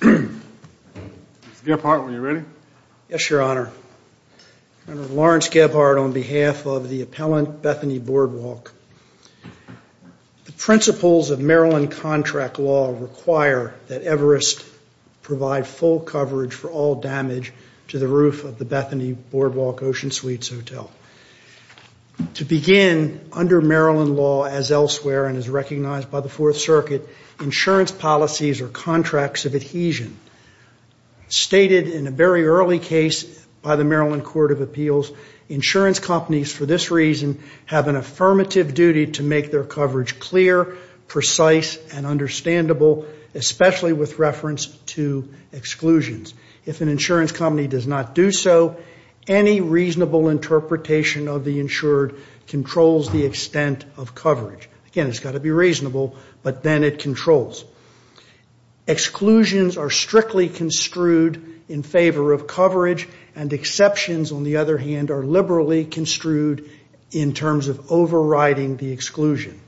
Mr. Gebhardt, are you ready? Yes, Your Honor. I'm Lawrence Gebhardt on behalf of the appellant Bethany Boardwalk. The principles of Maryland contract law require that Everest provide full coverage for all damage to the roof of the Bethany Boardwalk Ocean Suites Hotel. To begin, under Maryland law as elsewhere and as recognized by the Fourth Circuit, insurance policies are contracts of adhesion. Stated in a very early case by the Maryland Court of Appeals, insurance companies for this reason have an affirmative duty to make their coverage clear, precise, and understandable, especially with reference to exclusions. If an insurance company does not do so, any reasonable interpretation of the insured controls the extent of coverage. Again, it's got to be reasonable, but then it controls. Exclusions are strictly construed in favor of coverage, and exceptions, on the other hand, are liberally construed in terms of overriding the exclusion.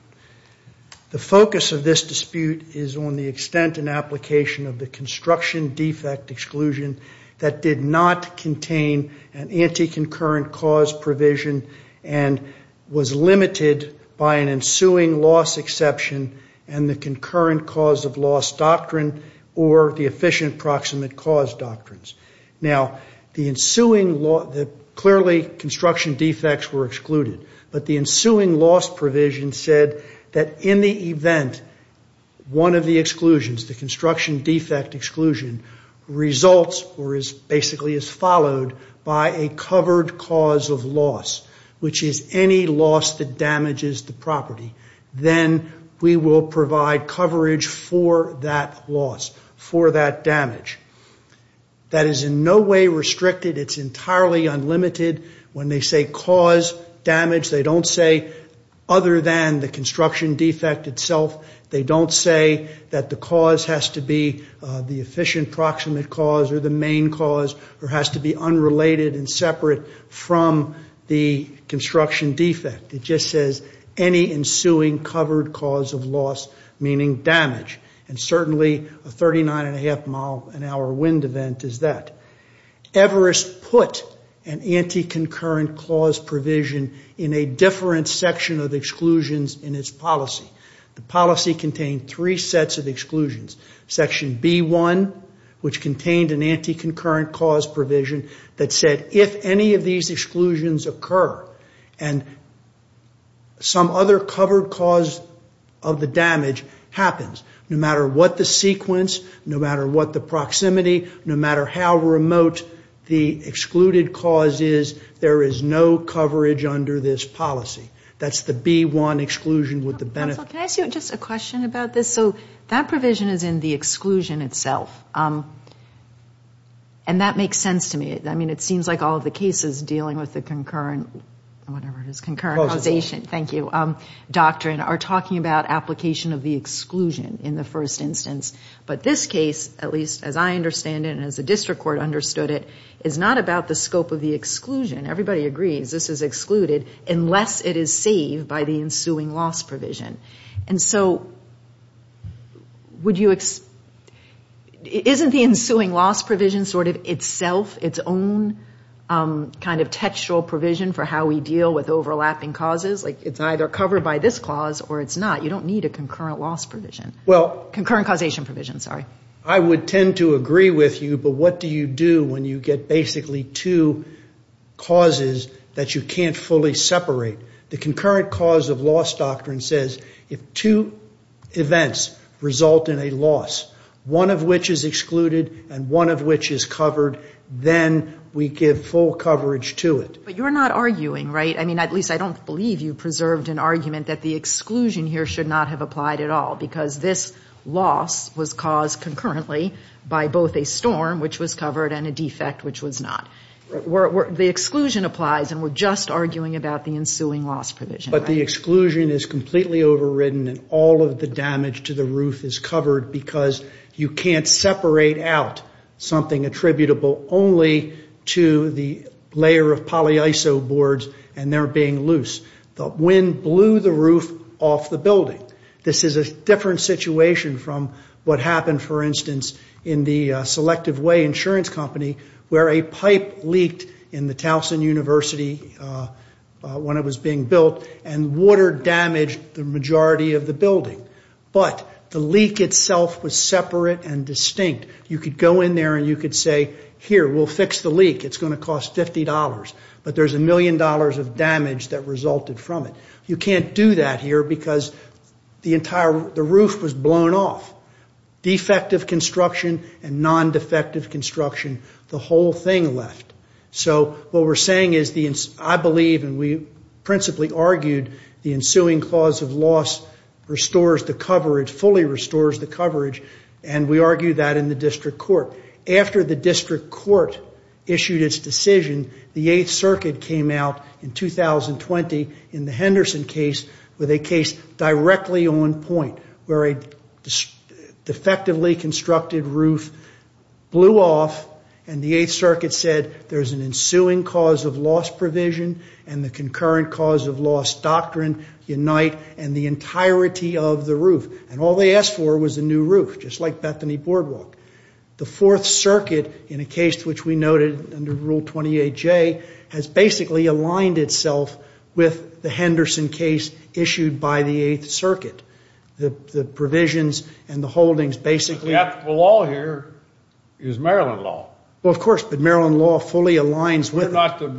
The focus of this dispute is on the extent and application of the construction defect exclusion that did not contain an anti-concurrent cause provision and was limited by an ensuing loss exception and the concurrent cause of loss doctrine or the efficient proximate cause doctrines. Now, clearly construction defects were excluded, but the ensuing loss provision said that in the event one of the exclusions, the construction defect exclusion, results or is basically is followed by a covered cause of loss, which is any loss that damages the property, then we will provide coverage for that loss, for that damage. That is in no way restricted. It's entirely unlimited. When they say cause damage, they don't say other than the construction defect itself. They don't say that the cause has to be the efficient proximate cause or the main cause or has to be unrelated and separate from the construction defect. It just says any ensuing covered cause of loss, meaning damage, and certainly a 39-and-a-half-mile-an-hour wind event is that. Everest put an anti-concurrent clause provision in a different section of exclusions in its policy. The policy contained three sets of exclusions, section B1, which contained an anti-concurrent clause provision that said if any of these exclusions occur and some other covered cause of the damage happens, no matter what the sequence, no matter what the proximity, no matter how remote the excluded cause is, there is no coverage under this policy. That's the B1 exclusion with the benefit. Counsel, can I ask you just a question about this? So that provision is in the exclusion itself, and that makes sense to me. I mean, it seems like all of the cases dealing with the concurrent whatever it is, concurrent causation. Thank you. Doctrine are talking about application of the exclusion in the first instance, but this case, at least as I understand it and as the district court understood it, is not about the scope of the exclusion. Everybody agrees this is excluded unless it is saved by the ensuing loss provision. And so isn't the ensuing loss provision sort of itself, its own kind of textual provision for how we deal with overlapping causes? Like it's either covered by this clause or it's not. You don't need a concurrent loss provision. Well, I would tend to agree with you, but what do you do when you get basically two causes that you can't fully separate? The concurrent cause of loss doctrine says if two events result in a loss, one of which is excluded and one of which is covered, then we give full coverage to it. But you're not arguing, right? I mean, at least I don't believe you preserved an argument that the exclusion here should not have applied at all because this loss was caused concurrently by both a storm, which was covered, and a defect, which was not. The exclusion applies, and we're just arguing about the ensuing loss provision. But the exclusion is completely overridden, and all of the damage to the roof is covered because you can't separate out something attributable only to the layer of polyiso boards, and they're being loose. The wind blew the roof off the building. This is a different situation from what happened, for instance, in the Selective Way Insurance Company where a pipe leaked in the Towson University when it was being built, and water damaged the majority of the building. But the leak itself was separate and distinct. You could go in there, and you could say, here, we'll fix the leak. It's going to cost $50, but there's a million dollars of damage that resulted from it. You can't do that here because the roof was blown off. Defective construction and non-defective construction, the whole thing left. So what we're saying is I believe, and we principally argued, the ensuing cause of loss restores the coverage, fully restores the coverage, and we argue that in the district court. After the district court issued its decision, the 8th Circuit came out in 2020 in the Henderson case with a case directly on point where a defectively constructed roof blew off, and the 8th Circuit said there's an ensuing cause of loss provision and the concurrent cause of loss doctrine, unite, and the entirety of the roof. And all they asked for was a new roof, just like Bethany Boardwalk. The 4th Circuit, in a case which we noted under Rule 28J, has basically aligned itself with the Henderson case issued by the 8th Circuit. The provisions and the holdings basically- The law here is Maryland law. Well, of course, but Maryland law fully aligns with- Not the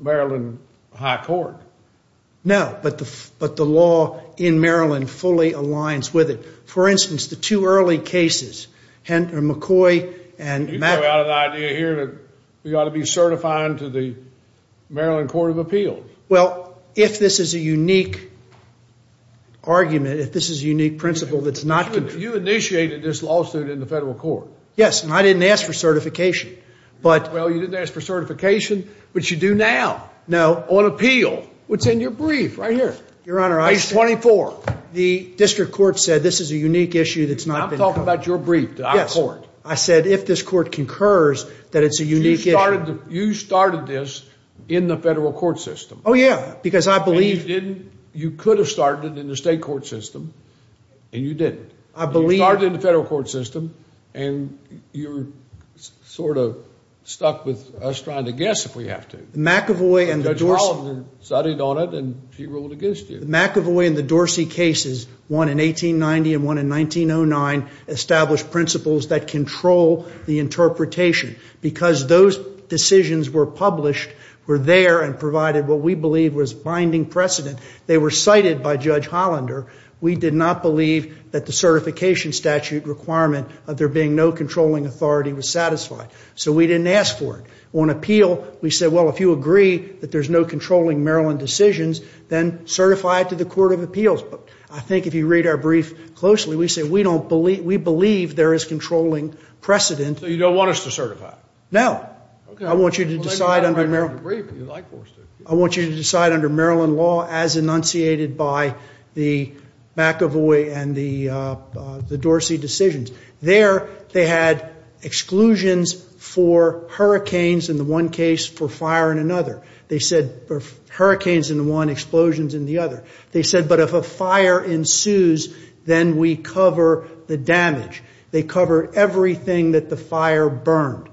Maryland High Court. No, but the law in Maryland fully aligns with it. For instance, the two early cases, McCoy and Maddox- You throw out an idea here that we ought to be certifying to the Maryland Court of Appeals. Well, if this is a unique argument, if this is a unique principle that's not- You initiated this lawsuit in the federal court. Yes, and I didn't ask for certification. Well, you didn't ask for certification, which you do now on appeal. What's in your brief right here? Your Honor, I- Page 24. The district court said this is a unique issue that's not been covered. I'm talking about your brief to our court. Yes, I said if this court concurs that it's a unique issue- You started this in the federal court system. Oh, yeah, because I believe- You could have started it in the state court system, and you didn't. I believe- You started in the federal court system, and you're sort of stuck with us trying to guess if we have to. Judge Rollins decided on it, and she ruled against you. The McEvoy and the Dorsey cases, one in 1890 and one in 1909, established principles that control the interpretation because those decisions were published, were there, and provided what we believe was binding precedent. They were cited by Judge Hollander. We did not believe that the certification statute requirement of there being no controlling authority was satisfied, so we didn't ask for it. On appeal, we said, well, if you agree that there's no controlling Maryland decisions, then certify it to the Court of Appeals. But I think if you read our brief closely, we say we believe there is controlling precedent. So you don't want us to certify? No. Okay. I want you to decide under Maryland law as enunciated by the McEvoy and the Dorsey decisions. There, they had exclusions for hurricanes in the one case, for fire in another. They said hurricanes in the one, explosions in the other. They said, but if a fire ensues, then we cover the damage. They cover everything that the fire burned.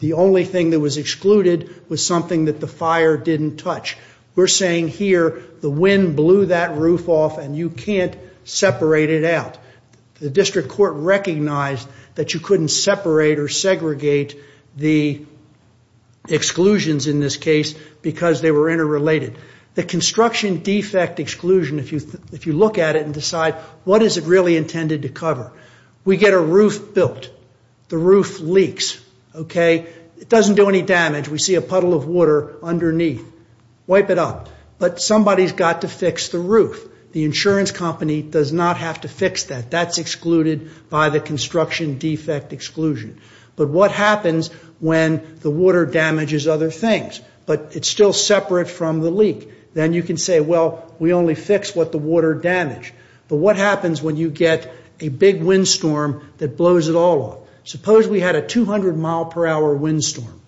The only thing that was excluded was something that the fire didn't touch. We're saying here the wind blew that roof off, and you can't separate it out. The district court recognized that you couldn't separate or segregate the exclusions in this case because they were interrelated. The construction defect exclusion, if you look at it and decide what is it really intended to cover, we get a roof built. The roof leaks, okay? It doesn't do any damage. We see a puddle of water underneath. Wipe it up. But somebody's got to fix the roof. The insurance company does not have to fix that. That's excluded by the construction defect exclusion. But what happens when the water damages other things, but it's still separate from the leak? Then you can say, well, we only fix what the water damaged. But what happens when you get a big windstorm that blows it all off? Suppose we had a 200-mile-per-hour windstorm.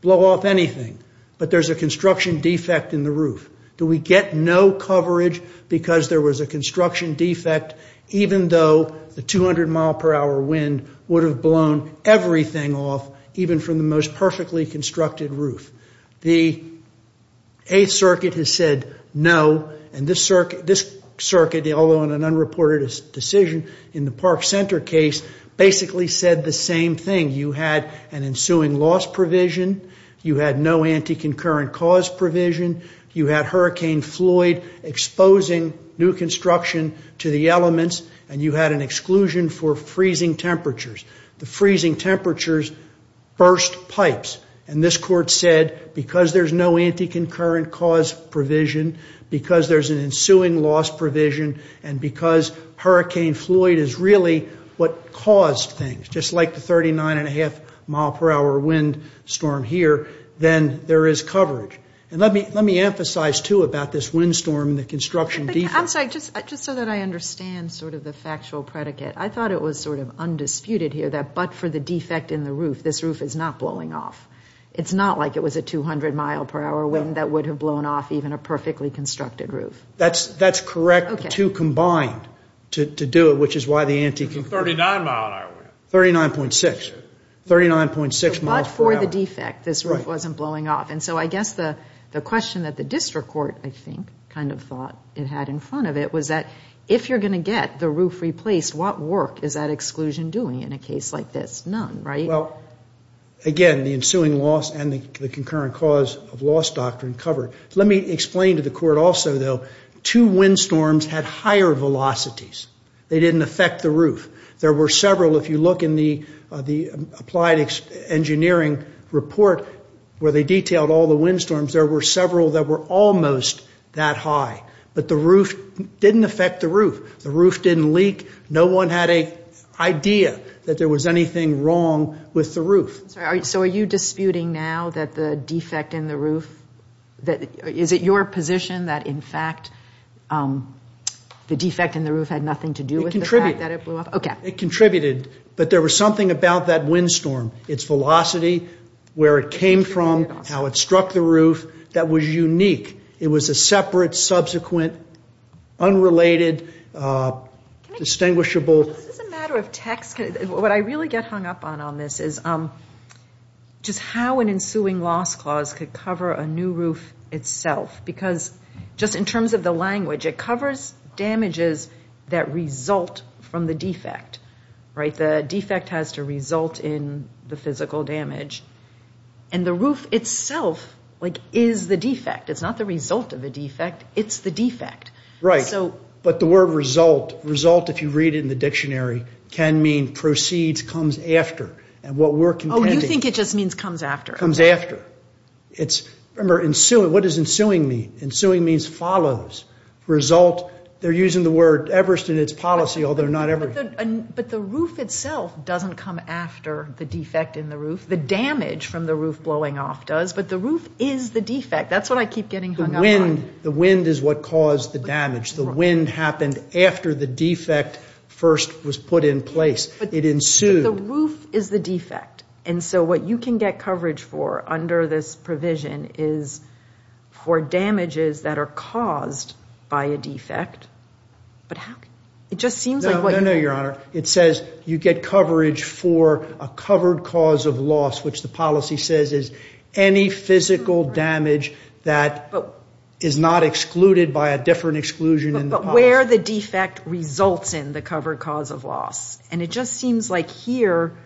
Blow off anything, but there's a construction defect in the roof. Do we get no coverage because there was a construction defect, even though the 200-mile-per-hour wind would have blown everything off, even from the most perfectly constructed roof? The Eighth Circuit has said no. And this circuit, although in an unreported decision in the Park Center case, basically said the same thing. You had an ensuing loss provision. You had no anti-concurrent cause provision. You had Hurricane Floyd exposing new construction to the elements. And you had an exclusion for freezing temperatures. The freezing temperatures burst pipes. And this court said because there's no anti-concurrent cause provision, because there's an ensuing loss provision, and because Hurricane Floyd is really what caused things, just like the 39-and-a-half-mile-per-hour windstorm here, then there is coverage. And let me emphasize, too, about this windstorm and the construction defect. I'm sorry. Just so that I understand sort of the factual predicate, I thought it was sort of undisputed here that but for the defect in the roof, this roof is not blowing off. It's not like it was a 200-mile-per-hour wind that would have blown off even a perfectly constructed roof. That's correct. The two combined to do it, which is why the anti-concurrent. 39-mile-per-hour wind. 39.6, 39.6 miles per hour. But for the defect, this roof wasn't blowing off. And so I guess the question that the district court, I think, kind of thought it had in front of it was that if you're going to get the roof replaced, what work is that exclusion doing in a case like this? None, right? Well, again, the ensuing loss and the concurrent cause of loss doctrine covered. Let me explain to the court also, though, two windstorms had higher velocities. They didn't affect the roof. There were several. If you look in the applied engineering report where they detailed all the windstorms, there were several that were almost that high. But the roof didn't affect the roof. The roof didn't leak. No one had an idea that there was anything wrong with the roof. So are you disputing now that the defect in the roof, is it your position that in fact the defect in the roof had nothing to do with the fact that it blew off? It contributed, but there was something about that windstorm, its velocity, where it came from, how it struck the roof, that was unique. It was a separate, subsequent, unrelated, distinguishable. Is this a matter of text? What I really get hung up on on this is just how an ensuing loss clause could cover a new roof itself. Because just in terms of the language, it covers damages that result from the defect. The defect has to result in the physical damage. And the roof itself is the defect. It's not the result of the defect. It's the defect. Right. But the word result, result if you read it in the dictionary, can mean proceeds, comes after. Oh, you think it just means comes after. Comes after. Remember, what does ensuing mean? Ensuing means follows. Result, they're using the word Everest in its policy, although not Everest. But the roof itself doesn't come after the defect in the roof. The damage from the roof blowing off does. But the roof is the defect. That's what I keep getting hung up on. The wind is what caused the damage. The wind happened after the defect first was put in place. It ensued. But the roof is the defect. And so what you can get coverage for under this provision is for damages that are caused by a defect. But how can you? It just seems like what you. No, no, no, Your Honor. It says you get coverage for a covered cause of loss, which the policy says is any physical damage that is not excluded by a different exclusion in the policy. But where the defect results in the covered cause of loss. And it just seems like here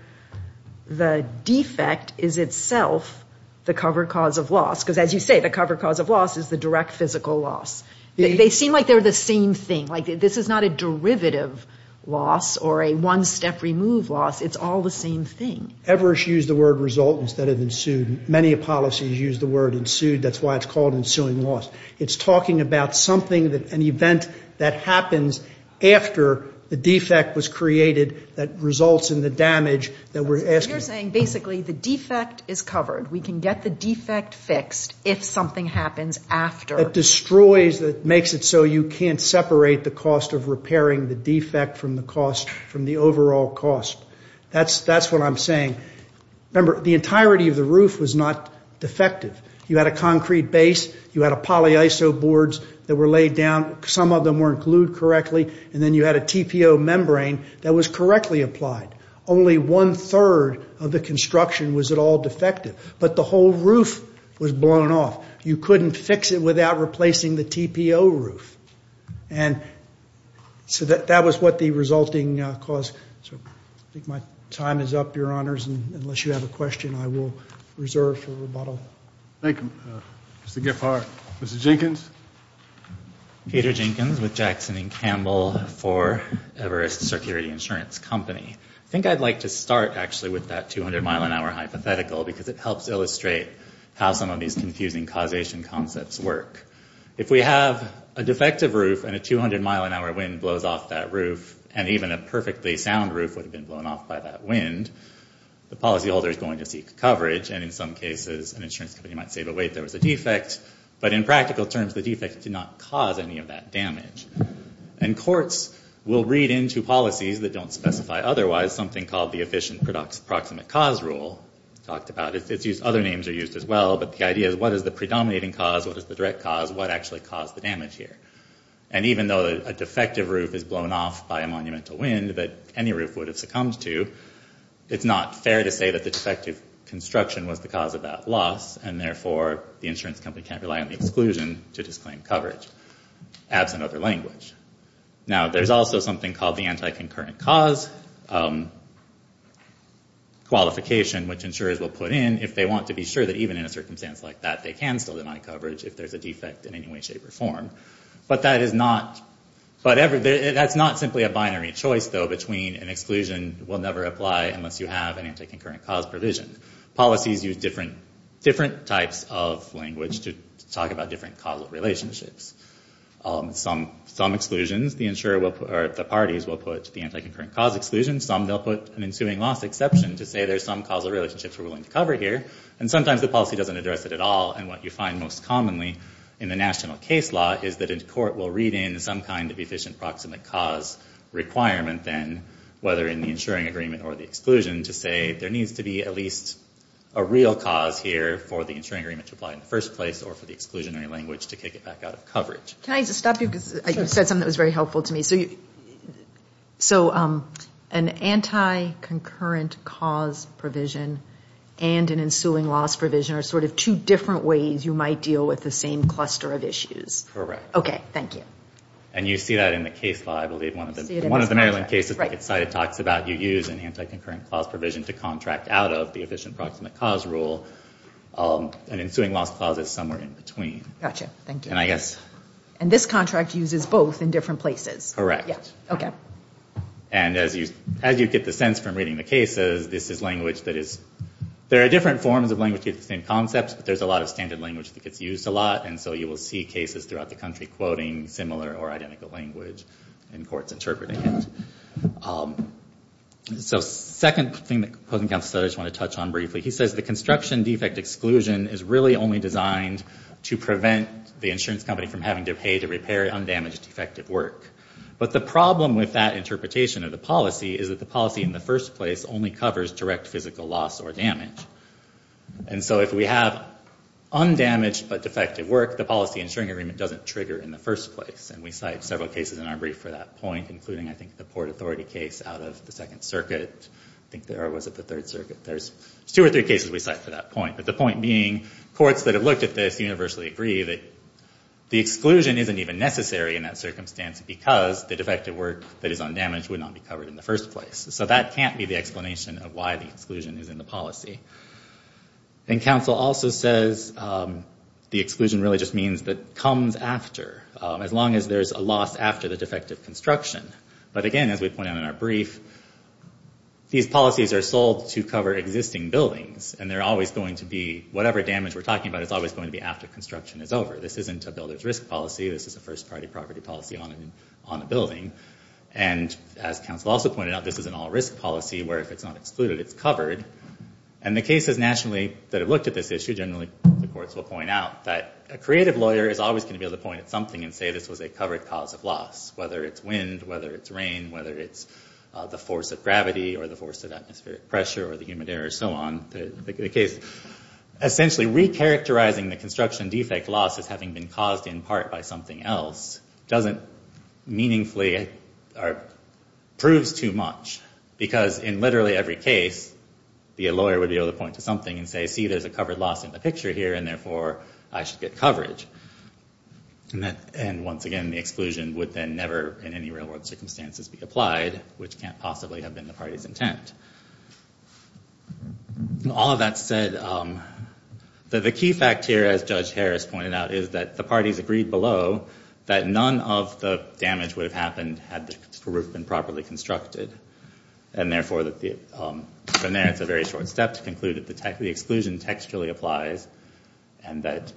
the defect is itself the covered cause of loss. Because as you say, the covered cause of loss is the direct physical loss. They seem like they're the same thing. Like this is not a derivative loss or a one-step remove loss. It's all the same thing. Everest used the word result instead of ensued. Many policies use the word ensued. That's why it's called ensuing loss. It's talking about something, an event that happens after the defect was created that results in the damage that we're asking. You're saying basically the defect is covered. We can get the defect fixed if something happens after. It destroys, makes it so you can't separate the cost of repairing the defect from the cost, from the overall cost. That's what I'm saying. Remember, the entirety of the roof was not defective. You had a concrete base. You had a poly iso boards that were laid down. Some of them weren't glued correctly. And then you had a TPO membrane that was correctly applied. Only one-third of the construction was at all defective. But the whole roof was blown off. You couldn't fix it without replacing the TPO roof. And so that was what the resulting cause. So I think my time is up, Your Honors. Unless you have a question, I will reserve for rebuttal. Thank you, Mr. Giffard. Mr. Jenkins? Peter Jenkins with Jackson & Campbell for Everest Security Insurance Company. I think I'd like to start actually with that 200-mile-an-hour hypothetical because it helps illustrate how some of these confusing causation concepts work. If we have a defective roof and a 200-mile-an-hour wind blows off that roof, and even a perfectly sound roof would have been blown off by that wind, the policyholder is going to seek coverage. And in some cases, an insurance company might say, but wait, there was a defect. But in practical terms, the defect did not cause any of that damage. And courts will read into policies that don't specify otherwise something called the efficient proximate cause rule. It's talked about. Other names are used as well. But the idea is, what is the predominating cause? What is the direct cause? What actually caused the damage here? And even though a defective roof is blown off by a monumental wind that any roof would have succumbed to, it's not fair to say that the defective construction was the cause of that loss, and therefore the insurance company can't rely on the exclusion to disclaim coverage, absent other language. Now, there's also something called the anti-concurrent cause qualification, which insurers will put in if they want to be sure that even in a circumstance like that, they can still deny coverage if there's a defect in any way, shape, or form. But that's not simply a binary choice, though, between an exclusion will never apply unless you have an anti-concurrent cause provision. Policies use different types of language to talk about different causal relationships. Some exclusions, the parties will put the anti-concurrent cause exclusion. Some, they'll put an ensuing loss exception to say there's some causal relationships we're willing to cover here. And sometimes the policy doesn't address it at all, and what you find most commonly in the national case law is that a court will read in some kind of efficient proximate cause requirement then, whether in the insuring agreement or the exclusion, to say there needs to be at least a real cause here for the insuring agreement to apply in the first place or for the exclusionary language to kick it back out of coverage. Can I just stop you because you said something that was very helpful to me. So an anti-concurrent cause provision and an ensuing loss provision are sort of two different ways you might deal with the same cluster of issues. Correct. Okay, thank you. And you see that in the case law, I believe, one of the Maryland cases. Right. It talks about you use an anti-concurrent clause provision to contract out of the efficient proximate cause rule. An ensuing loss clause is somewhere in between. Gotcha, thank you. And this contract uses both in different places. Correct. Okay. And as you get the sense from reading the cases, this is language that is, there are different forms of language with the same concepts, but there's a lot of standard language that gets used a lot, and so you will see cases throughout the country quoting similar or identical language and courts interpreting it. So second thing that I just want to touch on briefly, he says the construction defect exclusion is really only designed to prevent the insurance company from having to pay to repair undamaged defective work. But the problem with that interpretation of the policy is that the policy in the first place only covers direct physical loss or damage. And so if we have undamaged but defective work, the policy ensuring agreement doesn't trigger in the first place. And we cite several cases in our brief for that point, including, I think, the Port Authority case out of the Second Circuit. I think there was at the Third Circuit. There's two or three cases we cite for that point, but the point being courts that have looked at this universally agree that the exclusion isn't even necessary in that circumstance because the defective work that is undamaged would not be covered in the first place. So that can't be the explanation of why the exclusion is in the policy. And counsel also says the exclusion really just means that comes after, as long as there's a loss after the defective construction. But again, as we point out in our brief, these policies are sold to cover existing buildings, and they're always going to be whatever damage we're talking about is always going to be after construction is over. This isn't a builder's risk policy. This is a first-party property policy on a building. And as counsel also pointed out, this is an all-risk policy where if it's not excluded, it's covered. And the cases nationally that have looked at this issue, generally the courts will point out that a creative lawyer and say this was a covered cause of loss, whether it's wind, whether it's rain, whether it's the force of gravity or the force of atmospheric pressure or the humid air or so on. Essentially, recharacterizing the construction defect loss as having been caused in part by something else doesn't meaningfully or proves too much because in literally every case, the lawyer would be able to point to something and say, see, there's a covered loss in the picture here, and therefore I should get coverage. And once again, the exclusion would then never in any real-world circumstances be applied, which can't possibly have been the party's intent. All of that said, the key fact here, as Judge Harris pointed out, is that the parties agreed below that none of the damage would have happened had the roof been properly constructed. And therefore, from there, it's a very short step to conclude that the exclusion textually applies and that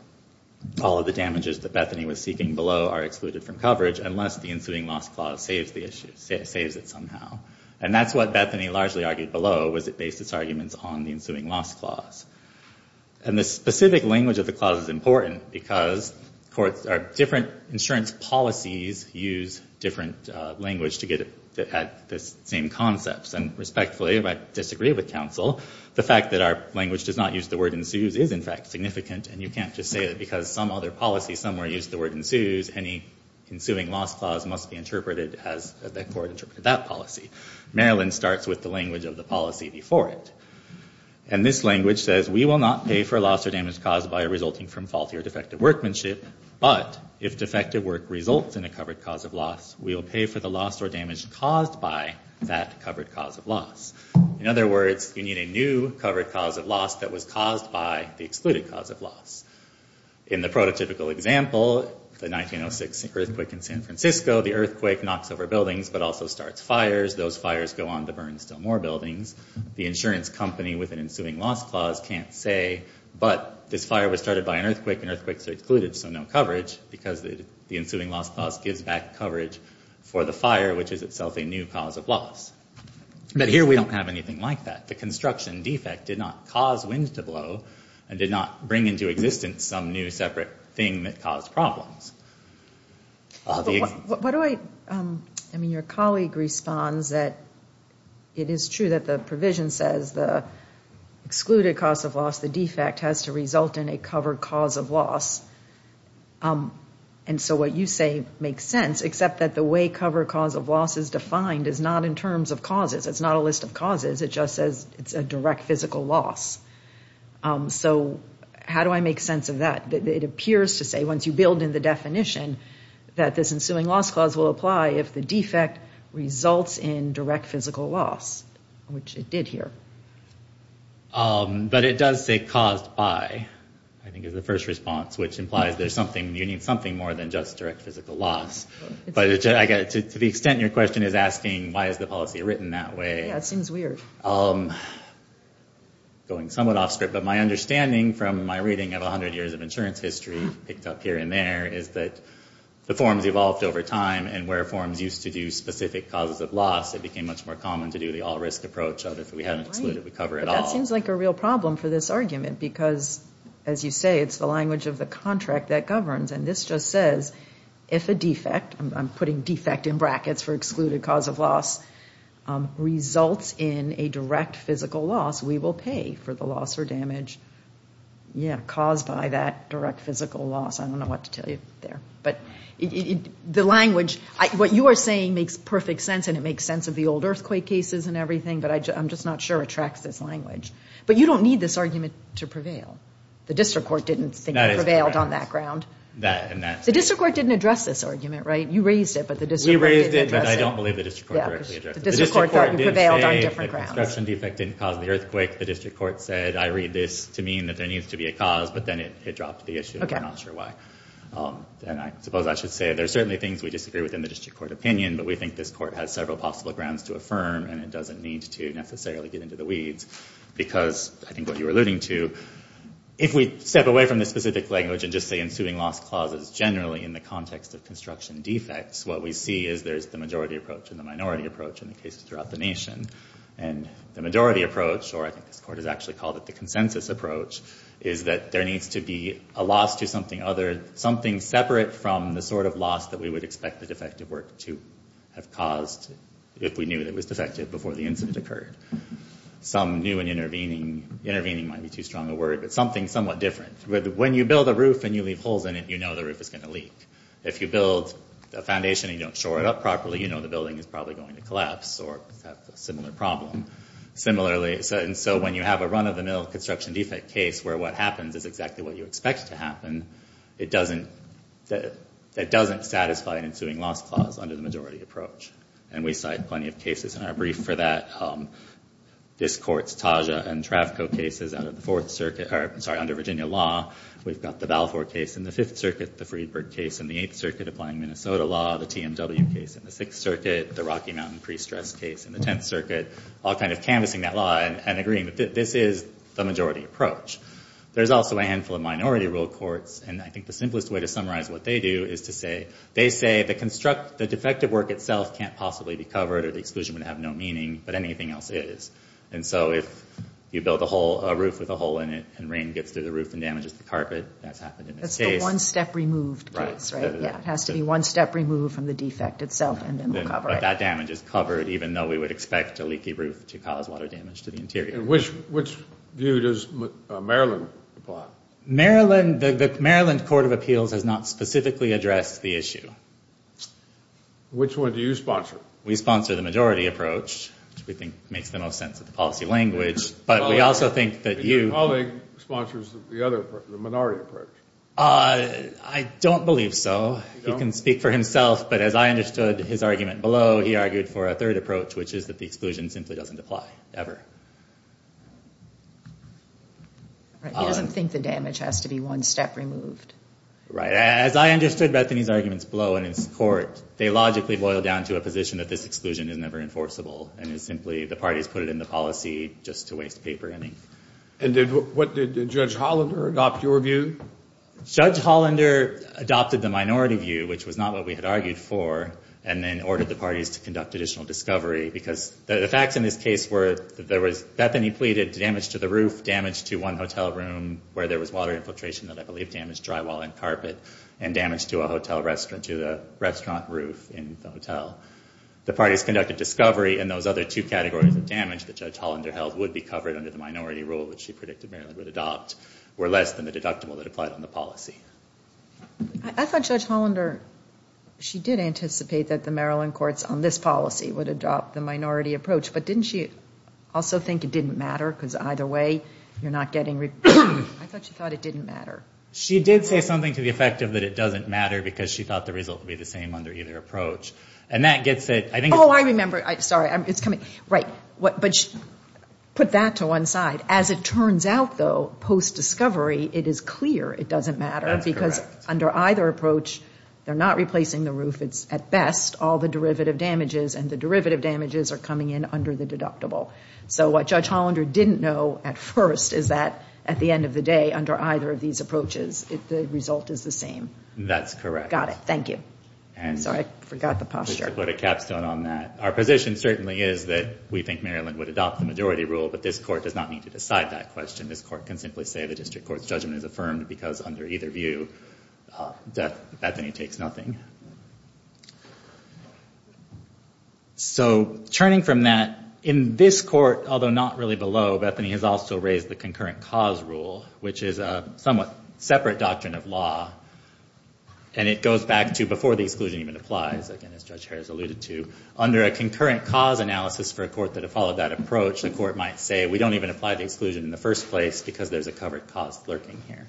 all of the damages that Bethany was seeking below are excluded from coverage unless the ensuing loss clause saves it somehow. And that's what Bethany largely argued below was it based its arguments on the ensuing loss clause. And the specific language of the clause is important because different insurance policies use different language to get at the same concepts. And respectfully, I disagree with counsel. The fact that our language does not use the word ensues is in fact significant, and you can't just say that because some other policy somewhere used the word ensues, any ensuing loss clause must be interpreted as the court interpreted that policy. Maryland starts with the language of the policy before it. And this language says, we will not pay for loss or damage caused by resulting from faulty or defective workmanship, but if defective work results in a covered cause of loss, we will pay for the loss or damage caused by that covered cause of loss. In other words, you need a new covered cause of loss that was caused by the excluded cause of loss. In the prototypical example, the 1906 earthquake in San Francisco, the earthquake knocks over buildings but also starts fires. Those fires go on to burn still more buildings. The insurance company with an ensuing loss clause can't say, but this fire was started by an earthquake, and earthquakes are excluded, so no coverage, because the ensuing loss clause gives back coverage for the fire, which is itself a new cause of loss. But here we don't have anything like that. The construction defect did not cause winds to blow and did not bring into existence some new separate thing that caused problems. Your colleague responds that it is true that the provision says the excluded cause of loss, the defect, has to result in a covered cause of loss. And so what you say makes sense, except that the way covered cause of loss is defined is not in terms of causes. It's not a list of causes. It just says it's a direct physical loss. So how do I make sense of that? It appears to say, once you build in the definition, that this ensuing loss clause will apply if the defect results in direct physical loss, which it did here. But it does say caused by, I think is the first response, which implies you need something more than just direct physical loss. But to the extent your question is asking why is the policy written that way, going somewhat off script, but my understanding from my reading of 100 years of insurance history, picked up here and there, is that the forms evolved over time and where forms used to do specific causes of loss, it became much more common to do the all-risk approach of if we had an excluded, we cover it all. But that seems like a real problem for this argument because, as you say, it's the language of the contract that governs. And this just says, if a defect, I'm putting defect in brackets for excluded cause of loss, results in a direct physical loss, we will pay for the loss or damage caused by that direct physical loss. I don't know what to tell you there. But the language, what you are saying makes perfect sense and it makes sense of the old earthquake cases and everything, but I'm just not sure it tracks this language. But you don't need this argument to prevail. The district court didn't think it prevailed on that ground. The district court didn't address this argument, right? You raised it, but the district court didn't address it. We raised it, but I don't believe the district court directly addressed it. The district court didn't say that construction defect didn't cause the earthquake. The district court said, I read this to mean that there needs to be a cause, but then it dropped the issue and we're not sure why. And I suppose I should say there are certainly things we disagree with in the district court opinion, but we think this court has several possible grounds to affirm and it doesn't need to necessarily get into the weeds because, I think what you were alluding to, if we step away from the specific language and just say ensuing loss clause is generally in the context of construction defects, what we see is there's the majority approach and the minority approach in the cases throughout the nation. And the majority approach, or I think this court has actually called it the consensus approach, is that there needs to be a loss to something other, something separate from the sort of loss that we would expect the defective work to have caused if we knew that it was defective before the incident occurred. Some new and intervening, intervening might be too strong a word, but something somewhat different. When you build a roof and you leave holes in it, you know the roof is going to leak. If you build a foundation and you don't shore it up properly, you know the building is probably going to collapse or have a similar problem. Similarly, so when you have a run-of-the-mill construction defect case where what happens is exactly what you expect to happen, that doesn't satisfy an ensuing loss clause under the majority approach. And we cite plenty of cases in our brief for that. This court's Taja and Trafco cases under Virginia law. We've got the Balfour case in the Fifth Circuit, the Friedberg case in the Eighth Circuit applying Minnesota law, the TMW case in the Sixth Circuit, the Rocky Mountain pre-stress case in the Tenth Circuit, all kind of canvassing that law and agreeing that this is the majority approach. There's also a handful of minority rule courts, and I think the simplest way to summarize what they do is to say, they say the defective work itself can't possibly be covered or the exclusion would have no meaning, but anything else is. And so if you build a roof with a hole in it and rain gets through the roof and damages the carpet, that's happened in this case. That's the one-step-removed case, right? Yeah, it has to be one step removed from the defect itself, and then we'll cover it. But that damage is covered, even though we would expect a leaky roof to cause water damage to the interior. And which view does Maryland apply? The Maryland Court of Appeals has not specifically addressed the issue. Which one do you sponsor? We sponsor the majority approach, which we think makes the most sense of the policy language. Your colleague sponsors the minority approach. I don't believe so. He can speak for himself, but as I understood his argument below, he argued for a third approach, which is that the exclusion simply doesn't apply, ever. He doesn't think the damage has to be one step removed. Right. As I understood Bethany's arguments below in his court, they logically boil down to a position that this exclusion is never enforceable and is simply the parties put it in the policy just to waste paper and ink. And what did Judge Hollander adopt, your view? Judge Hollander adopted the minority view, which was not what we had argued for, and then ordered the parties to conduct additional discovery, because the facts in this case were that there was, Bethany pleaded damage to the roof, damage to one hotel room, where there was water infiltration that I believe damaged drywall and carpet, and damage to a hotel restaurant, to the restaurant roof in the hotel. The parties conducted discovery, and those other two categories of damage that Judge Hollander held would be covered under the minority rule, which she predicted Maryland would adopt, were less than the deductible that applied on the policy. I thought Judge Hollander, she did anticipate that the Maryland courts on this policy would adopt the minority approach, but didn't she also think it didn't matter, because either way you're not getting... I thought she thought it didn't matter. She did say something to the effect that it doesn't matter, because she thought the result would be the same under either approach. And that gets it... Oh, I remember. Sorry. It's coming. Right. But put that to one side. As it turns out, though, post-discovery, it is clear it doesn't matter, because under either approach, they're not replacing the roof. It's, at best, all the derivative damages, and the derivative damages are coming in under the deductible. So what Judge Hollander didn't know at first is that, at the end of the day, under either of these approaches, the result is the same. That's correct. Got it. Thank you. Sorry, I forgot the posture. Just to put a capstone on that, our position certainly is that we think Maryland would adopt the majority rule, but this court does not need to decide that question. This court can simply say the district court's judgment is affirmed, because under either view, Bethany takes nothing. So turning from that, in this court, although not really below, Bethany has also raised the concurrent cause rule, which is a somewhat separate doctrine of law, and it goes back to before the exclusion even applies, again, as Judge Harris alluded to. Under a concurrent cause analysis for a court that had followed that approach, the court might say, we don't even apply the exclusion in the first place because there's a covered cause lurking here.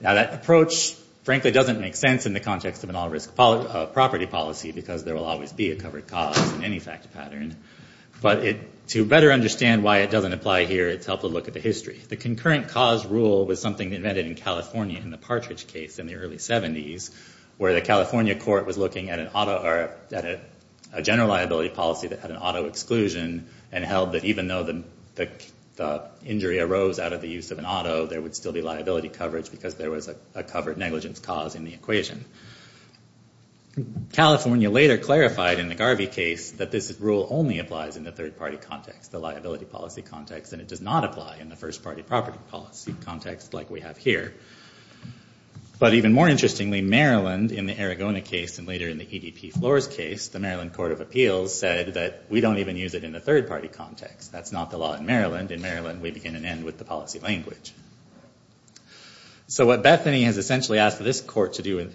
Now, that approach, frankly, doesn't make sense in the context of an all-risk property policy, because there will always be a covered cause in any fact pattern. But to better understand why it doesn't apply here, it's helpful to look at the history. The concurrent cause rule was something invented in California in the Partridge case in the early 70s, where the California court was looking at a general liability policy that had an auto exclusion, and held that even though the injury arose out of the use of an auto, there would still be liability coverage because there was a covered negligence cause in the equation. California later clarified in the Garvey case that this rule only applies in the third-party context, the liability policy context, and it does not apply in the first-party property policy context like we have here. But even more interestingly, Maryland, in the Aragona case and later in the EDP Flores case, the Maryland Court of Appeals said that we don't even use it in the third-party context. That's not the law in Maryland. In Maryland, we begin and end with the policy language. So what Bethany has essentially asked this court to do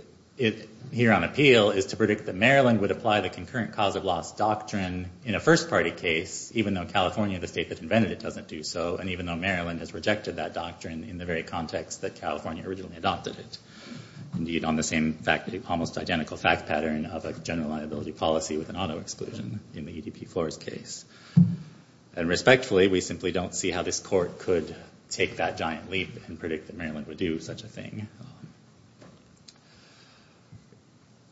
here on appeal is to predict that Maryland would apply the concurrent cause of loss doctrine in a first-party case, even though California, the state that invented it, doesn't do so, and even though Maryland has rejected that doctrine in the very context that California originally adopted it. Indeed, on the same almost identical fact pattern of a general liability policy with an auto exclusion in the EDP Flores case. And respectfully, we simply don't see how this court could take that giant leap and predict that Maryland would do such a thing.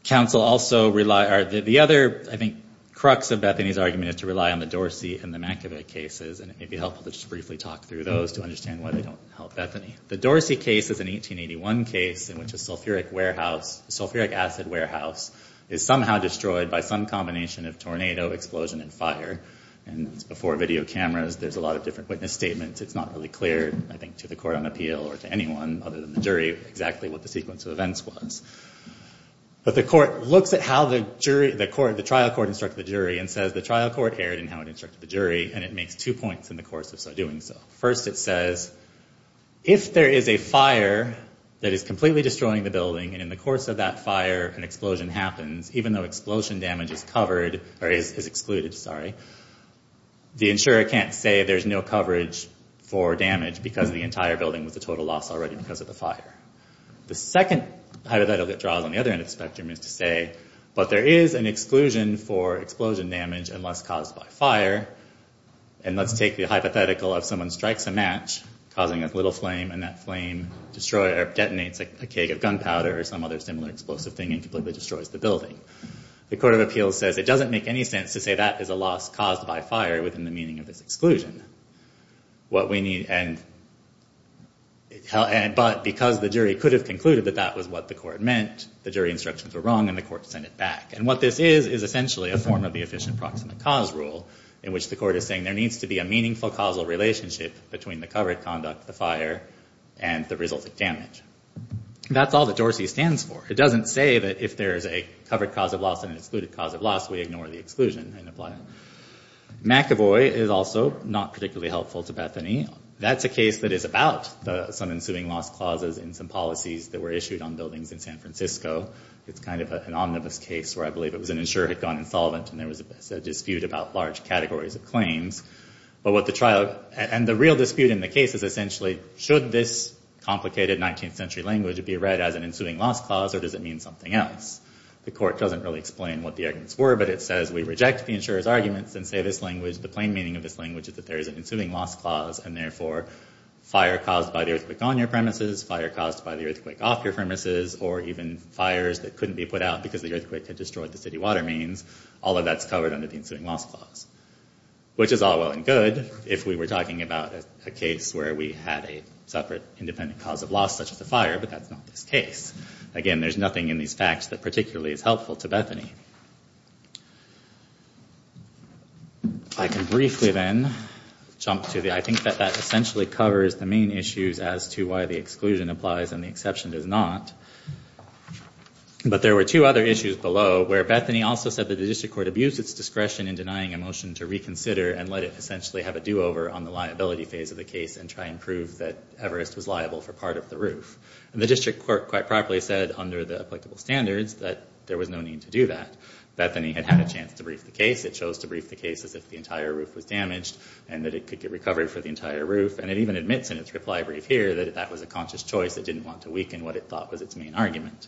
The other, I think, crux of Bethany's argument is to rely on the Dorsey and the Mankiewicz cases, and it may be helpful to just briefly talk through those to understand why they don't help Bethany. The Dorsey case is an 1881 case in which a sulfuric acid warehouse is somehow destroyed by some combination of tornado, explosion, and fire. And before video cameras, there's a lot of different witness statements. It's not really clear, I think, to the court on appeal or to anyone other than the jury exactly what the sequence of events was. But the trial court instructed the jury and says the trial court erred in how it instructed the jury, and it makes two points in the course of doing so. First, it says if there is a fire that is completely destroying the building and in the course of that fire an explosion happens, even though explosion damage is covered, or is excluded, sorry, the insurer can't say there's no coverage for damage because the entire building was a total loss already because of the fire. The second hypothetical that draws on the other end of the spectrum is to say, but there is an exclusion for explosion damage unless caused by fire, and let's take the hypothetical of someone strikes a match causing a little flame and that flame detonates a keg of gunpowder or some other similar explosive thing and completely destroys the building. The court of appeals says it doesn't make any sense to say that is a loss caused by fire within the meaning of this exclusion. But because the jury could have concluded that that was what the court meant, the jury instructions were wrong and the court sent it back. And what this is is essentially a form of the efficient proximate cause rule in which the court is saying there needs to be a meaningful causal relationship between the covered conduct, the fire, and the result of damage. That's all that Dorsey stands for. It doesn't say that if there is a covered cause of loss and an excluded cause of loss, we ignore the exclusion and apply it. McEvoy is also not particularly helpful to Bethany. That's a case that is about some ensuing loss clauses and some policies that were issued on buildings in San Francisco. It's kind of an omnibus case where I believe it was an insurer had gone insolvent and there was a dispute about large categories of claims. And the real dispute in the case is essentially, should this complicated 19th century language be read as an ensuing loss clause or does it mean something else? The court doesn't really explain what the arguments were, but it says we reject the insurer's arguments and say the plain meaning of this language is that there is an ensuing loss clause and therefore fire caused by the earthquake on your premises, fire caused by the earthquake off your premises, or even fires that couldn't be put out because the earthquake had destroyed the city water mains, all of that's covered under the ensuing loss clause. Which is all well and good if we were talking about a case where we had a separate independent cause of loss such as a fire, but that's not this case. Again, there's nothing in these facts that particularly is helpful to Bethany. I can briefly then jump to the, I think that that essentially covers the main issues as to why the exclusion applies and the exception does not. But there were two other issues below where Bethany also said that the district court abused its discretion in denying a motion to reconsider and let it essentially have a do-over on the liability phase of the case and try and prove that Everest was liable for part of the roof. And the district court quite properly said under the applicable standards that there was no need to do that. Bethany had had a chance to brief the case, it chose to brief the case as if the entire roof was damaged and that it could get recovered for the entire roof and it even admits in its reply brief here that that was a conscious choice. It didn't want to weaken what it thought was its main argument.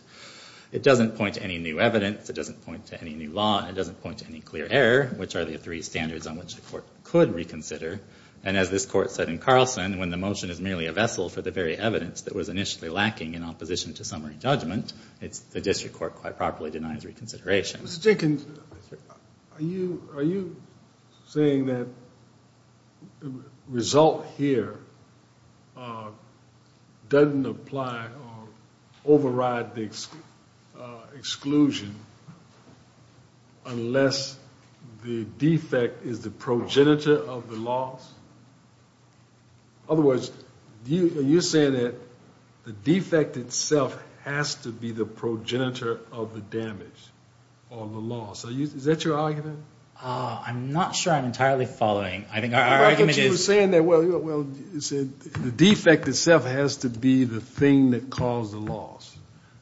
It doesn't point to any new evidence. It doesn't point to any new law. It doesn't point to any clear error, which are the three standards on which the court could reconsider. And as this court said in Carlson, when the motion is merely a vessel for the very evidence that was initially lacking in opposition to summary judgment, the district court quite properly denies reconsideration. Mr. Jenkins, are you saying that the result here doesn't apply or override the exclusion unless the defect is the progenitor of the loss? Otherwise, are you saying that the defect itself has to be the progenitor of the damage or the loss? Is that your argument? I'm not sure I'm entirely following. I think our argument is... I thought you were saying that, well, you said the defect itself has to be the thing that caused the loss.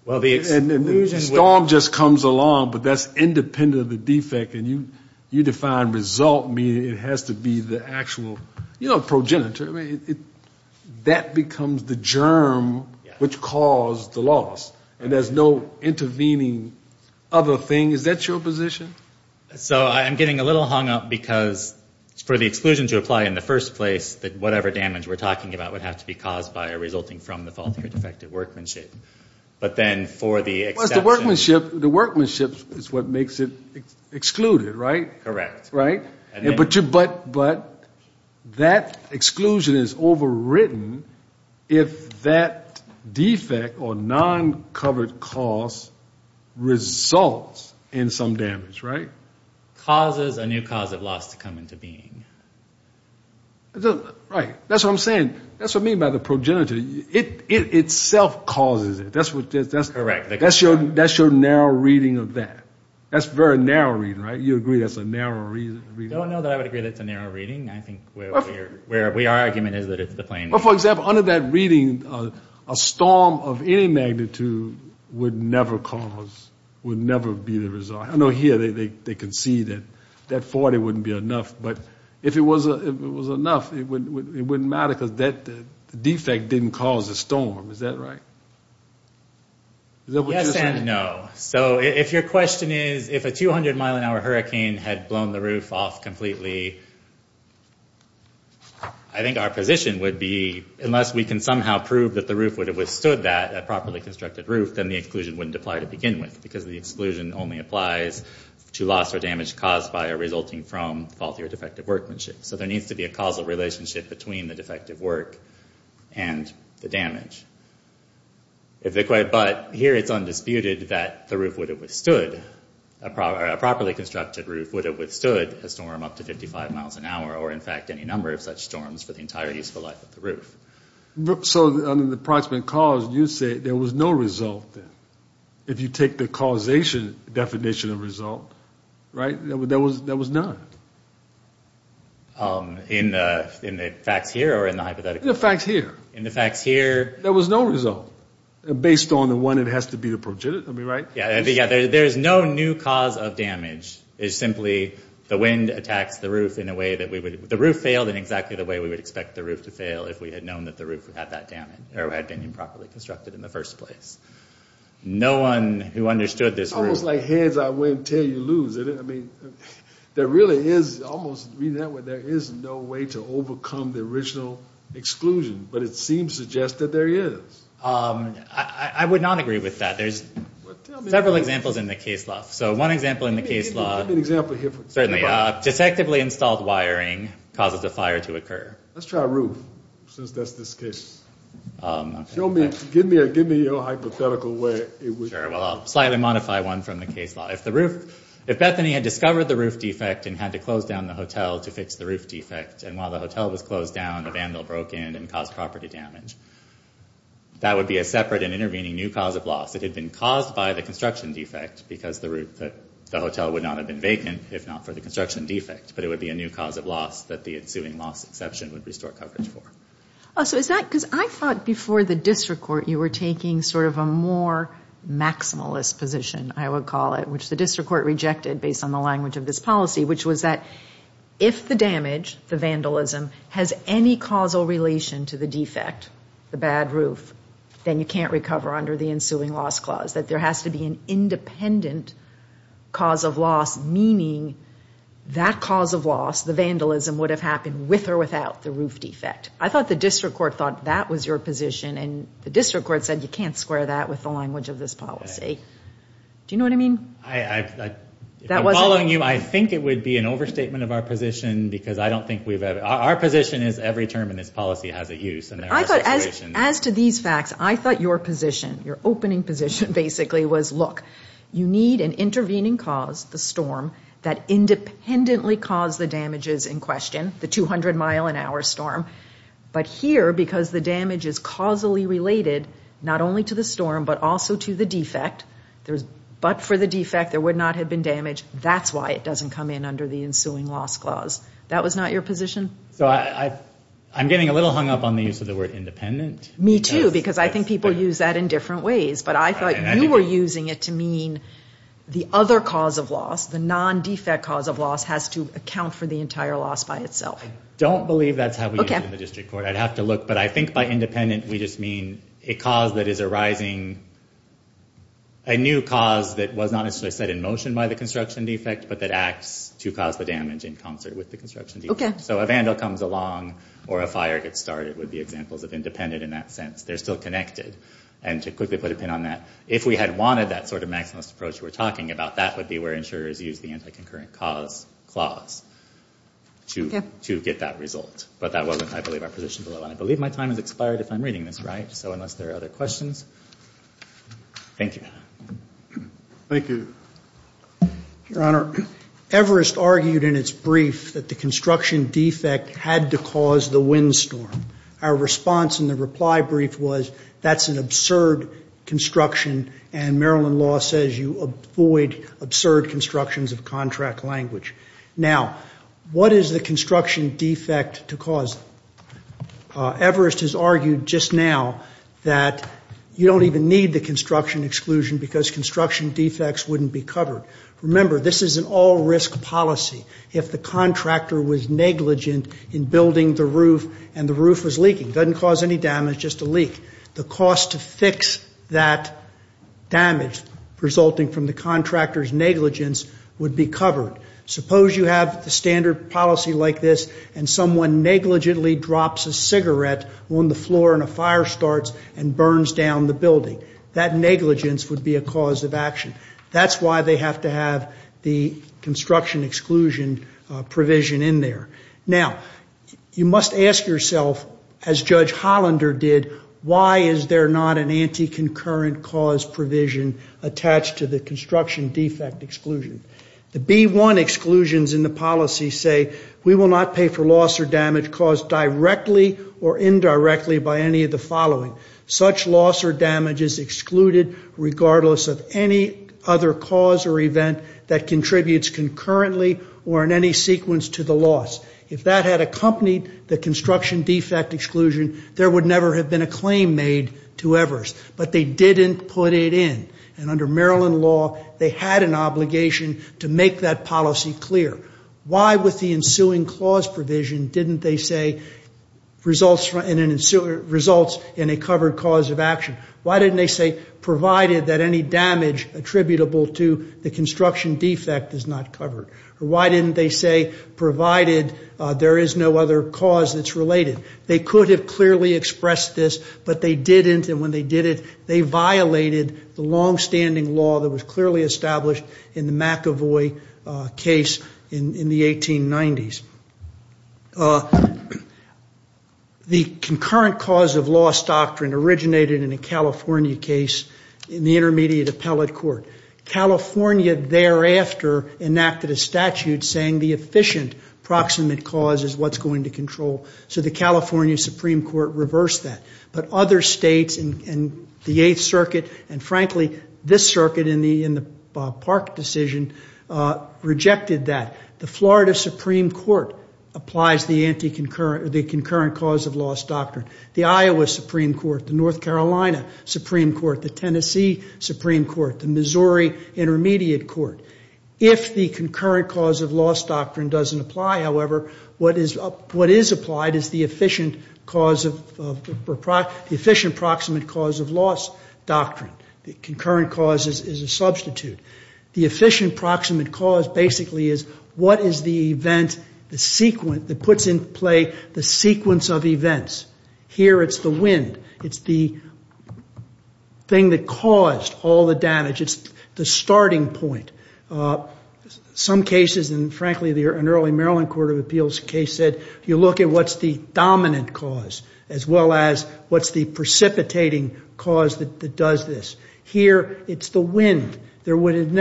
Well, the exclusion... And the storm just comes along, but that's independent of the defect, and you define result meaning it has to be the actual, you know, progenitor. I mean, that becomes the germ which caused the loss, and there's no intervening other thing. Is that your position? So I'm getting a little hung up because for the exclusion to apply in the first place, that whatever damage we're talking about would have to be caused by or resulting from the faultier defective workmanship. But then for the exception... Well, it's the workmanship. The workmanship is what makes it excluded, right? Correct. Right? But that exclusion is overwritten if that defect or non-covered cause results in some damage, right? Causes a new cause of loss to come into being. Right. That's what I'm saying. That's what I mean by the progenitor. It itself causes it. That's what... Correct. That's your narrow reading of that. That's a very narrow reading, right? You agree that's a narrow reading? I don't know that I would agree that's a narrow reading. I think where our argument is that it's the plain... For example, under that reading, a storm of any magnitude would never cause, would never be the result. I know here they can see that that 40 wouldn't be enough, but if it was enough, it wouldn't matter because that defect didn't cause the storm. Is that right? Yes and no. So if your question is, if a 200-mile-an-hour hurricane had blown the roof off completely, I think our position would be unless we can somehow prove that the roof would have withstood that, a properly constructed roof, then the exclusion wouldn't apply to begin with because the exclusion only applies to loss or damage caused by or resulting from faulty or defective workmanship. So there needs to be a causal relationship between the defective work and the damage. But here it's undisputed that the roof would have withstood, a properly constructed roof would have withstood a storm up to 55 miles an hour or, in fact, any number of such storms for the entire useful life of the roof. So under the approximate cause, you say there was no result then. If you take the causation definition of result, right, there was none. In the facts here or in the hypothetical? In the facts here. In the facts here? There was no result. Based on the one it has to be the progenitor, am I right? Yeah, there's no new cause of damage. It's simply the wind attacks the roof in a way that we would... The roof failed in exactly the way we would expect the roof to fail if we had known that the roof had that damage or had been improperly constructed in the first place. No one who understood this... It's almost like heads I win, tail you lose, isn't it? I mean, there really is almost... There is no way to overcome the original exclusion, but it seems to suggest that there is. I would not agree with that. There's several examples in the case law. So one example in the case law... Give me an example here. Certainly. Detectively installed wiring causes a fire to occur. Let's try roof since that's this case. Give me your hypothetical where it would... Sure. Well, I'll slightly modify one from the case law. If Bethany had discovered the roof defect and had to close down the hotel to fix the roof defect, and while the hotel was closed down, the vandal broke in and caused property damage, that would be a separate and intervening new cause of loss. It had been caused by the construction defect because the hotel would not have been vacant if not for the construction defect, but it would be a new cause of loss that the ensuing loss exception would restore coverage for. Oh, so is that... Because I thought before the district court you were taking sort of a more maximalist position, I would call it, which the district court rejected based on the language of this policy, which was that if the damage, the vandalism, has any causal relation to the defect, the bad roof, then you can't recover under the ensuing loss clause, that there has to be an independent cause of loss, meaning that cause of loss, the vandalism, would have happened with or without the roof defect. I thought the district court thought that was your position, and the district court said you can't square that with the language of this policy. Do you know what I mean? If I'm following you, I think it would be an overstatement of our position because I don't think we've ever... Our position is every term in this policy has a use, and there are situations... As to these facts, I thought your position, your opening position, basically, was, look, you need an intervening cause, the storm, that independently caused the damages in question, the 200-mile-an-hour storm. But here, because the damage is causally related not only to the storm but also to the defect, but for the defect, there would not have been damage, that's why it doesn't come in under the ensuing loss clause. That was not your position? So I'm getting a little hung up on the use of the word independent. Me too, because I think people use that in different ways, but I thought you were using it to mean the other cause of loss, the non-defect cause of loss, has to account for the entire loss by itself. I don't believe that's how we use it in the district court. I'd have to look, but I think by independent, we just mean a cause that is arising, a new cause that was not necessarily set in motion by the construction defect, but that acts to cause the damage in concert with the construction defect. So a vandal comes along, or a fire gets started, would be examples of independent in that sense. They're still connected. And to quickly put a pin on that, if we had wanted that sort of maximalist approach you were talking about, that would be where insurers use the anti-concurrent cause clause to get that result. But that wasn't, I believe, our position below. And I believe my time has expired if I'm reading this right, so unless there are other questions. Thank you. Thank you. Your Honor, Everest argued in its brief that the construction defect had to cause the windstorm. Our response in the reply brief was, that's an absurd construction, and Maryland law says you avoid absurd constructions of contract language. Now, what is the construction defect to cause? Everest has argued just now that you don't even need the construction exclusion because construction defects wouldn't be covered. Remember, this is an all-risk policy. If the contractor was negligent in building the roof and the roof was leaking, it doesn't cause any damage, just a leak. The cost to fix that damage resulting from the contractor's negligence would be covered. Suppose you have the standard policy like this and someone negligently drops a cigarette on the floor and a fire starts and burns down the building. That negligence would be a cause of action. That's why they have to have the construction exclusion provision in there. Now, you must ask yourself, as Judge Hollander did, why is there not an anti-concurrent cause provision attached to the construction defect exclusion? The B-1 exclusions in the policy say, we will not pay for loss or damage caused directly or indirectly by any of the following. Such loss or damage is excluded regardless of any other cause or event that contributes concurrently or in any sequence to the loss. If that had accompanied the construction defect exclusion, there would never have been a claim made to Evers. But they didn't put it in. And under Maryland law, they had an obligation to make that policy clear. Why with the ensuing clause provision didn't they say results in a covered cause of action? Why didn't they say, provided that any damage attributable to the construction defect is not covered? Or why didn't they say, provided there is no other cause that's related? They could have clearly expressed this, but they didn't, and when they did it, they violated the long-standing law that was clearly established in the McAvoy case in the 1890s. The concurrent cause of loss doctrine originated in a California case in the Intermediate Appellate Court. California thereafter enacted a statute saying the efficient proximate cause is what's going to control. So the California Supreme Court reversed that. But other states in the Eighth Circuit, and frankly, this circuit in the Bob Park decision, rejected that. The Florida Supreme Court applies the concurrent cause of loss doctrine. The Iowa Supreme Court, the North Carolina Supreme Court, the Tennessee Supreme Court, the Missouri Intermediate Court. If the concurrent cause of loss doctrine doesn't apply, however, what is applied is the efficient cause of... the efficient proximate cause of loss doctrine. The concurrent cause is a substitute. The efficient proximate cause basically is what is the event that puts in play the sequence of events? Here, it's the wind. It's the thing that caused all the damage. It's the starting point. Some cases, and frankly, an early Maryland Court of Appeals case said, you look at what's the dominant cause as well as what's the precipitating cause that does this. Here, it's the wind. We would have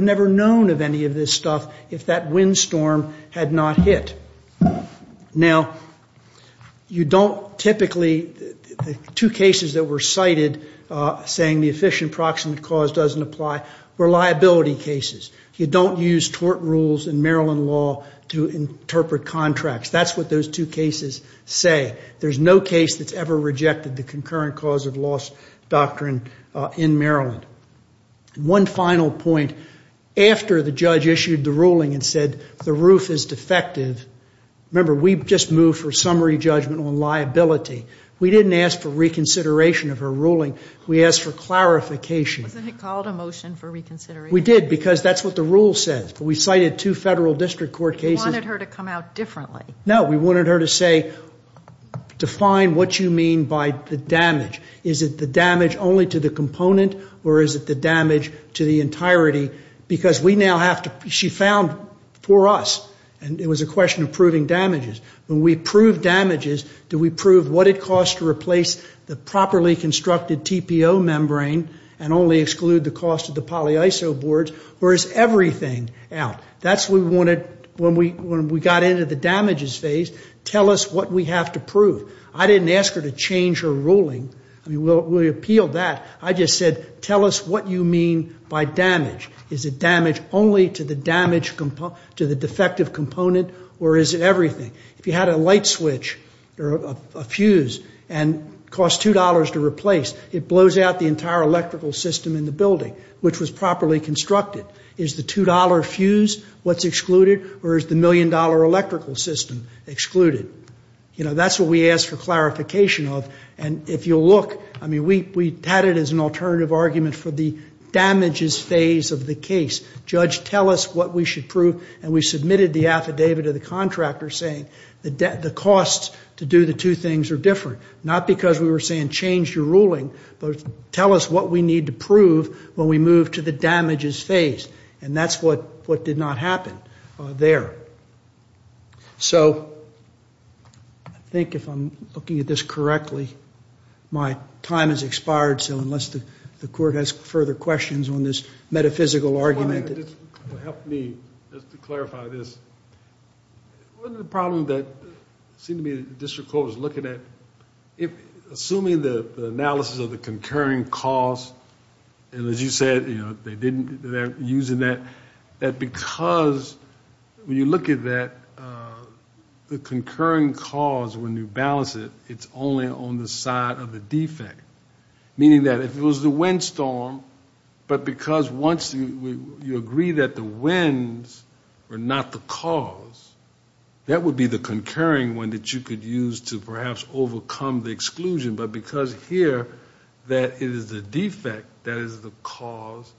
never known of any of this stuff if that windstorm had not hit. Now, you don't typically... The two cases that were cited saying the efficient proximate cause doesn't apply were liability cases. You don't use tort rules in Maryland law to interpret contracts. That's what those two cases say. There's no case that's ever rejected the concurrent cause of loss doctrine in Maryland. One final point. After the judge issued the ruling and said the roof is defective, remember, we just moved for summary judgment on liability. We didn't ask for reconsideration of her ruling. We asked for clarification. Wasn't it called a motion for reconsideration? We did because that's what the rule says. We cited two federal district court cases. You wanted her to come out differently. No, we wanted her to say, define what you mean by the damage. Is it the damage only to the component or is it the damage to the entirety? Because we now have to... She found for us. And it was a question of proving damages. When we prove damages, do we prove what it costs to replace the properly constructed TPO membrane and only exclude the cost of the polyisoboards or is everything out? That's what we wanted when we got into the damages phase. Tell us what we have to prove. I didn't ask her to change her ruling. We appealed that. I just said, tell us what you mean by damage. Is it damage only to the defective component or is it everything? If you had a light switch or a fuse and cost $2 to replace, it blows out the entire electrical system in the building which was properly constructed. Is the $2 fuse what's excluded or is the million-dollar electrical system excluded? That's what we asked for clarification of. And if you look, we had it as an alternative argument for the damages phase of the case. Judge, tell us what we should prove. And we submitted the affidavit to the contractor saying the costs to do the two things are different, not because we were saying change your ruling, but tell us what we need to prove when we move to the damages phase. And that's what did not happen there. So I think if I'm looking at this correctly, my time has expired, so unless the court has further questions on this metaphysical argument... One of the things that helped me, just to clarify this, one of the problems that seemed to be the district court was looking at, assuming the analysis of the concurring costs, and as you said, they're using that, that because when you look at that, the concurring cause, when you balance it, it's only on the side of the defect, meaning that if it was the windstorm, but because once you agree that the winds are not the cause, that would be the concurring one that you could use to perhaps overcome the exclusion, but because here that it is the defect that is the cause,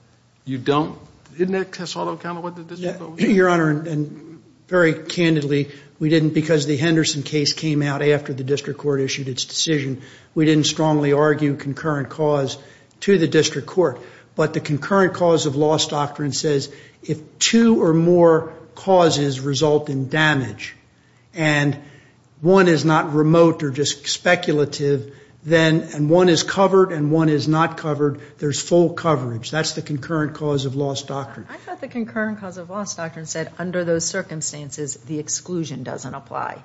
you don't... Didn't that cast a lot of account of what the district court was doing? Your Honor, and very candidly, we didn't, because the Henderson case came out after the district court issued its decision, we didn't strongly argue concurrent cause to the district court, but the concurrent cause of loss doctrine says if two or more causes result in damage, and one is not remote or just speculative, then one is covered and one is not covered, there's full coverage. That's the concurrent cause of loss doctrine. I thought the concurrent cause of loss doctrine said under those circumstances, the exclusion doesn't apply.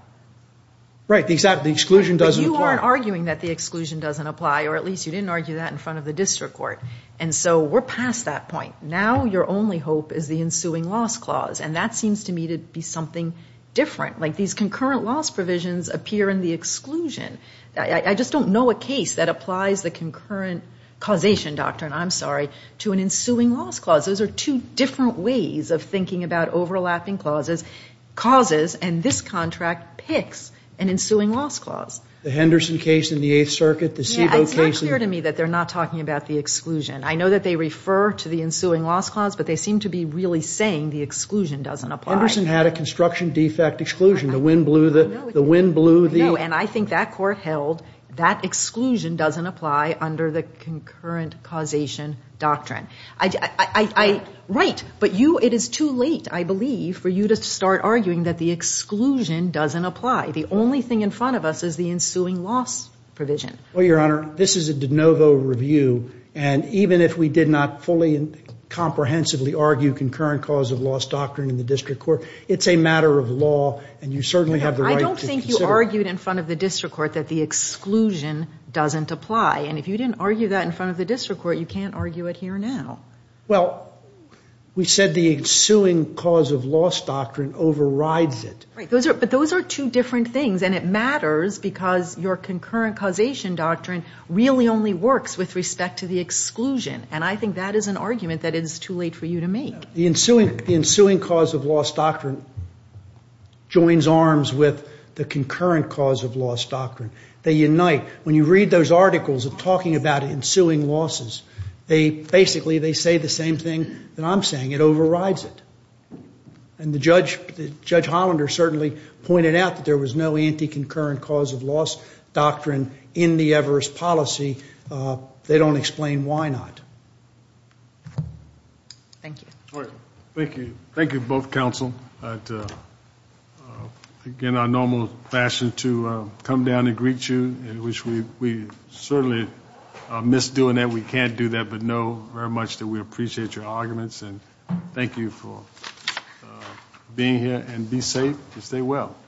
Right, exactly. The exclusion doesn't apply. You weren't arguing that the exclusion doesn't apply, or at least you didn't argue that in front of the district court, and so we're past that point. Now your only hope is the ensuing loss clause, and that seems to me to be something different, like these concurrent loss provisions appear in the exclusion. I just don't know a case that applies the concurrent causation doctrine, I'm sorry, to an ensuing loss clause. Those are two different ways of thinking about overlapping causes, and this contract picks an ensuing loss clause. The Henderson case in the Eighth Circuit, the Sebo case. Yeah, it's not clear to me that they're not talking about the exclusion. I know that they refer to the ensuing loss clause, but they seem to be really saying the exclusion doesn't apply. Henderson had a construction defect exclusion, the wind blew the... I know, and I think that court held that exclusion doesn't apply under the concurrent causation doctrine. I... Right, but you, it is too late, I believe, for you to start arguing that the exclusion doesn't apply. The only thing in front of us is the ensuing loss provision. Well, Your Honor, this is a de novo review, and even if we did not fully and comprehensively argue concurrent cause of loss doctrine in the district court, it's a matter of law, and you certainly have the right to consider... I don't think you argued in front of the district court that the exclusion doesn't apply, and if you didn't argue that in front of the district court, you can't argue it here now. Well, we said the ensuing cause of loss doctrine overrides it. Right, but those are two different things, and it matters because your concurrent causation doctrine really only works with respect to the exclusion, and I think that is an argument that it is too late for you to make. The ensuing cause of loss doctrine joins arms with the concurrent cause of loss doctrine. They unite. When you read those articles of talking about ensuing losses, they, basically, they say the same thing that I'm saying. It overrides it. And Judge Hollander certainly pointed out that there was no anti-concurrent cause of loss doctrine in the Everest policy. They don't explain why not. Thank you. Thank you. Thank you, both counsel. Again, our normal fashion to come down and greet you, which we certainly miss doing that. We can't do that, but know very much that we appreciate your arguments, and thank you for being here, and be safe and stay well.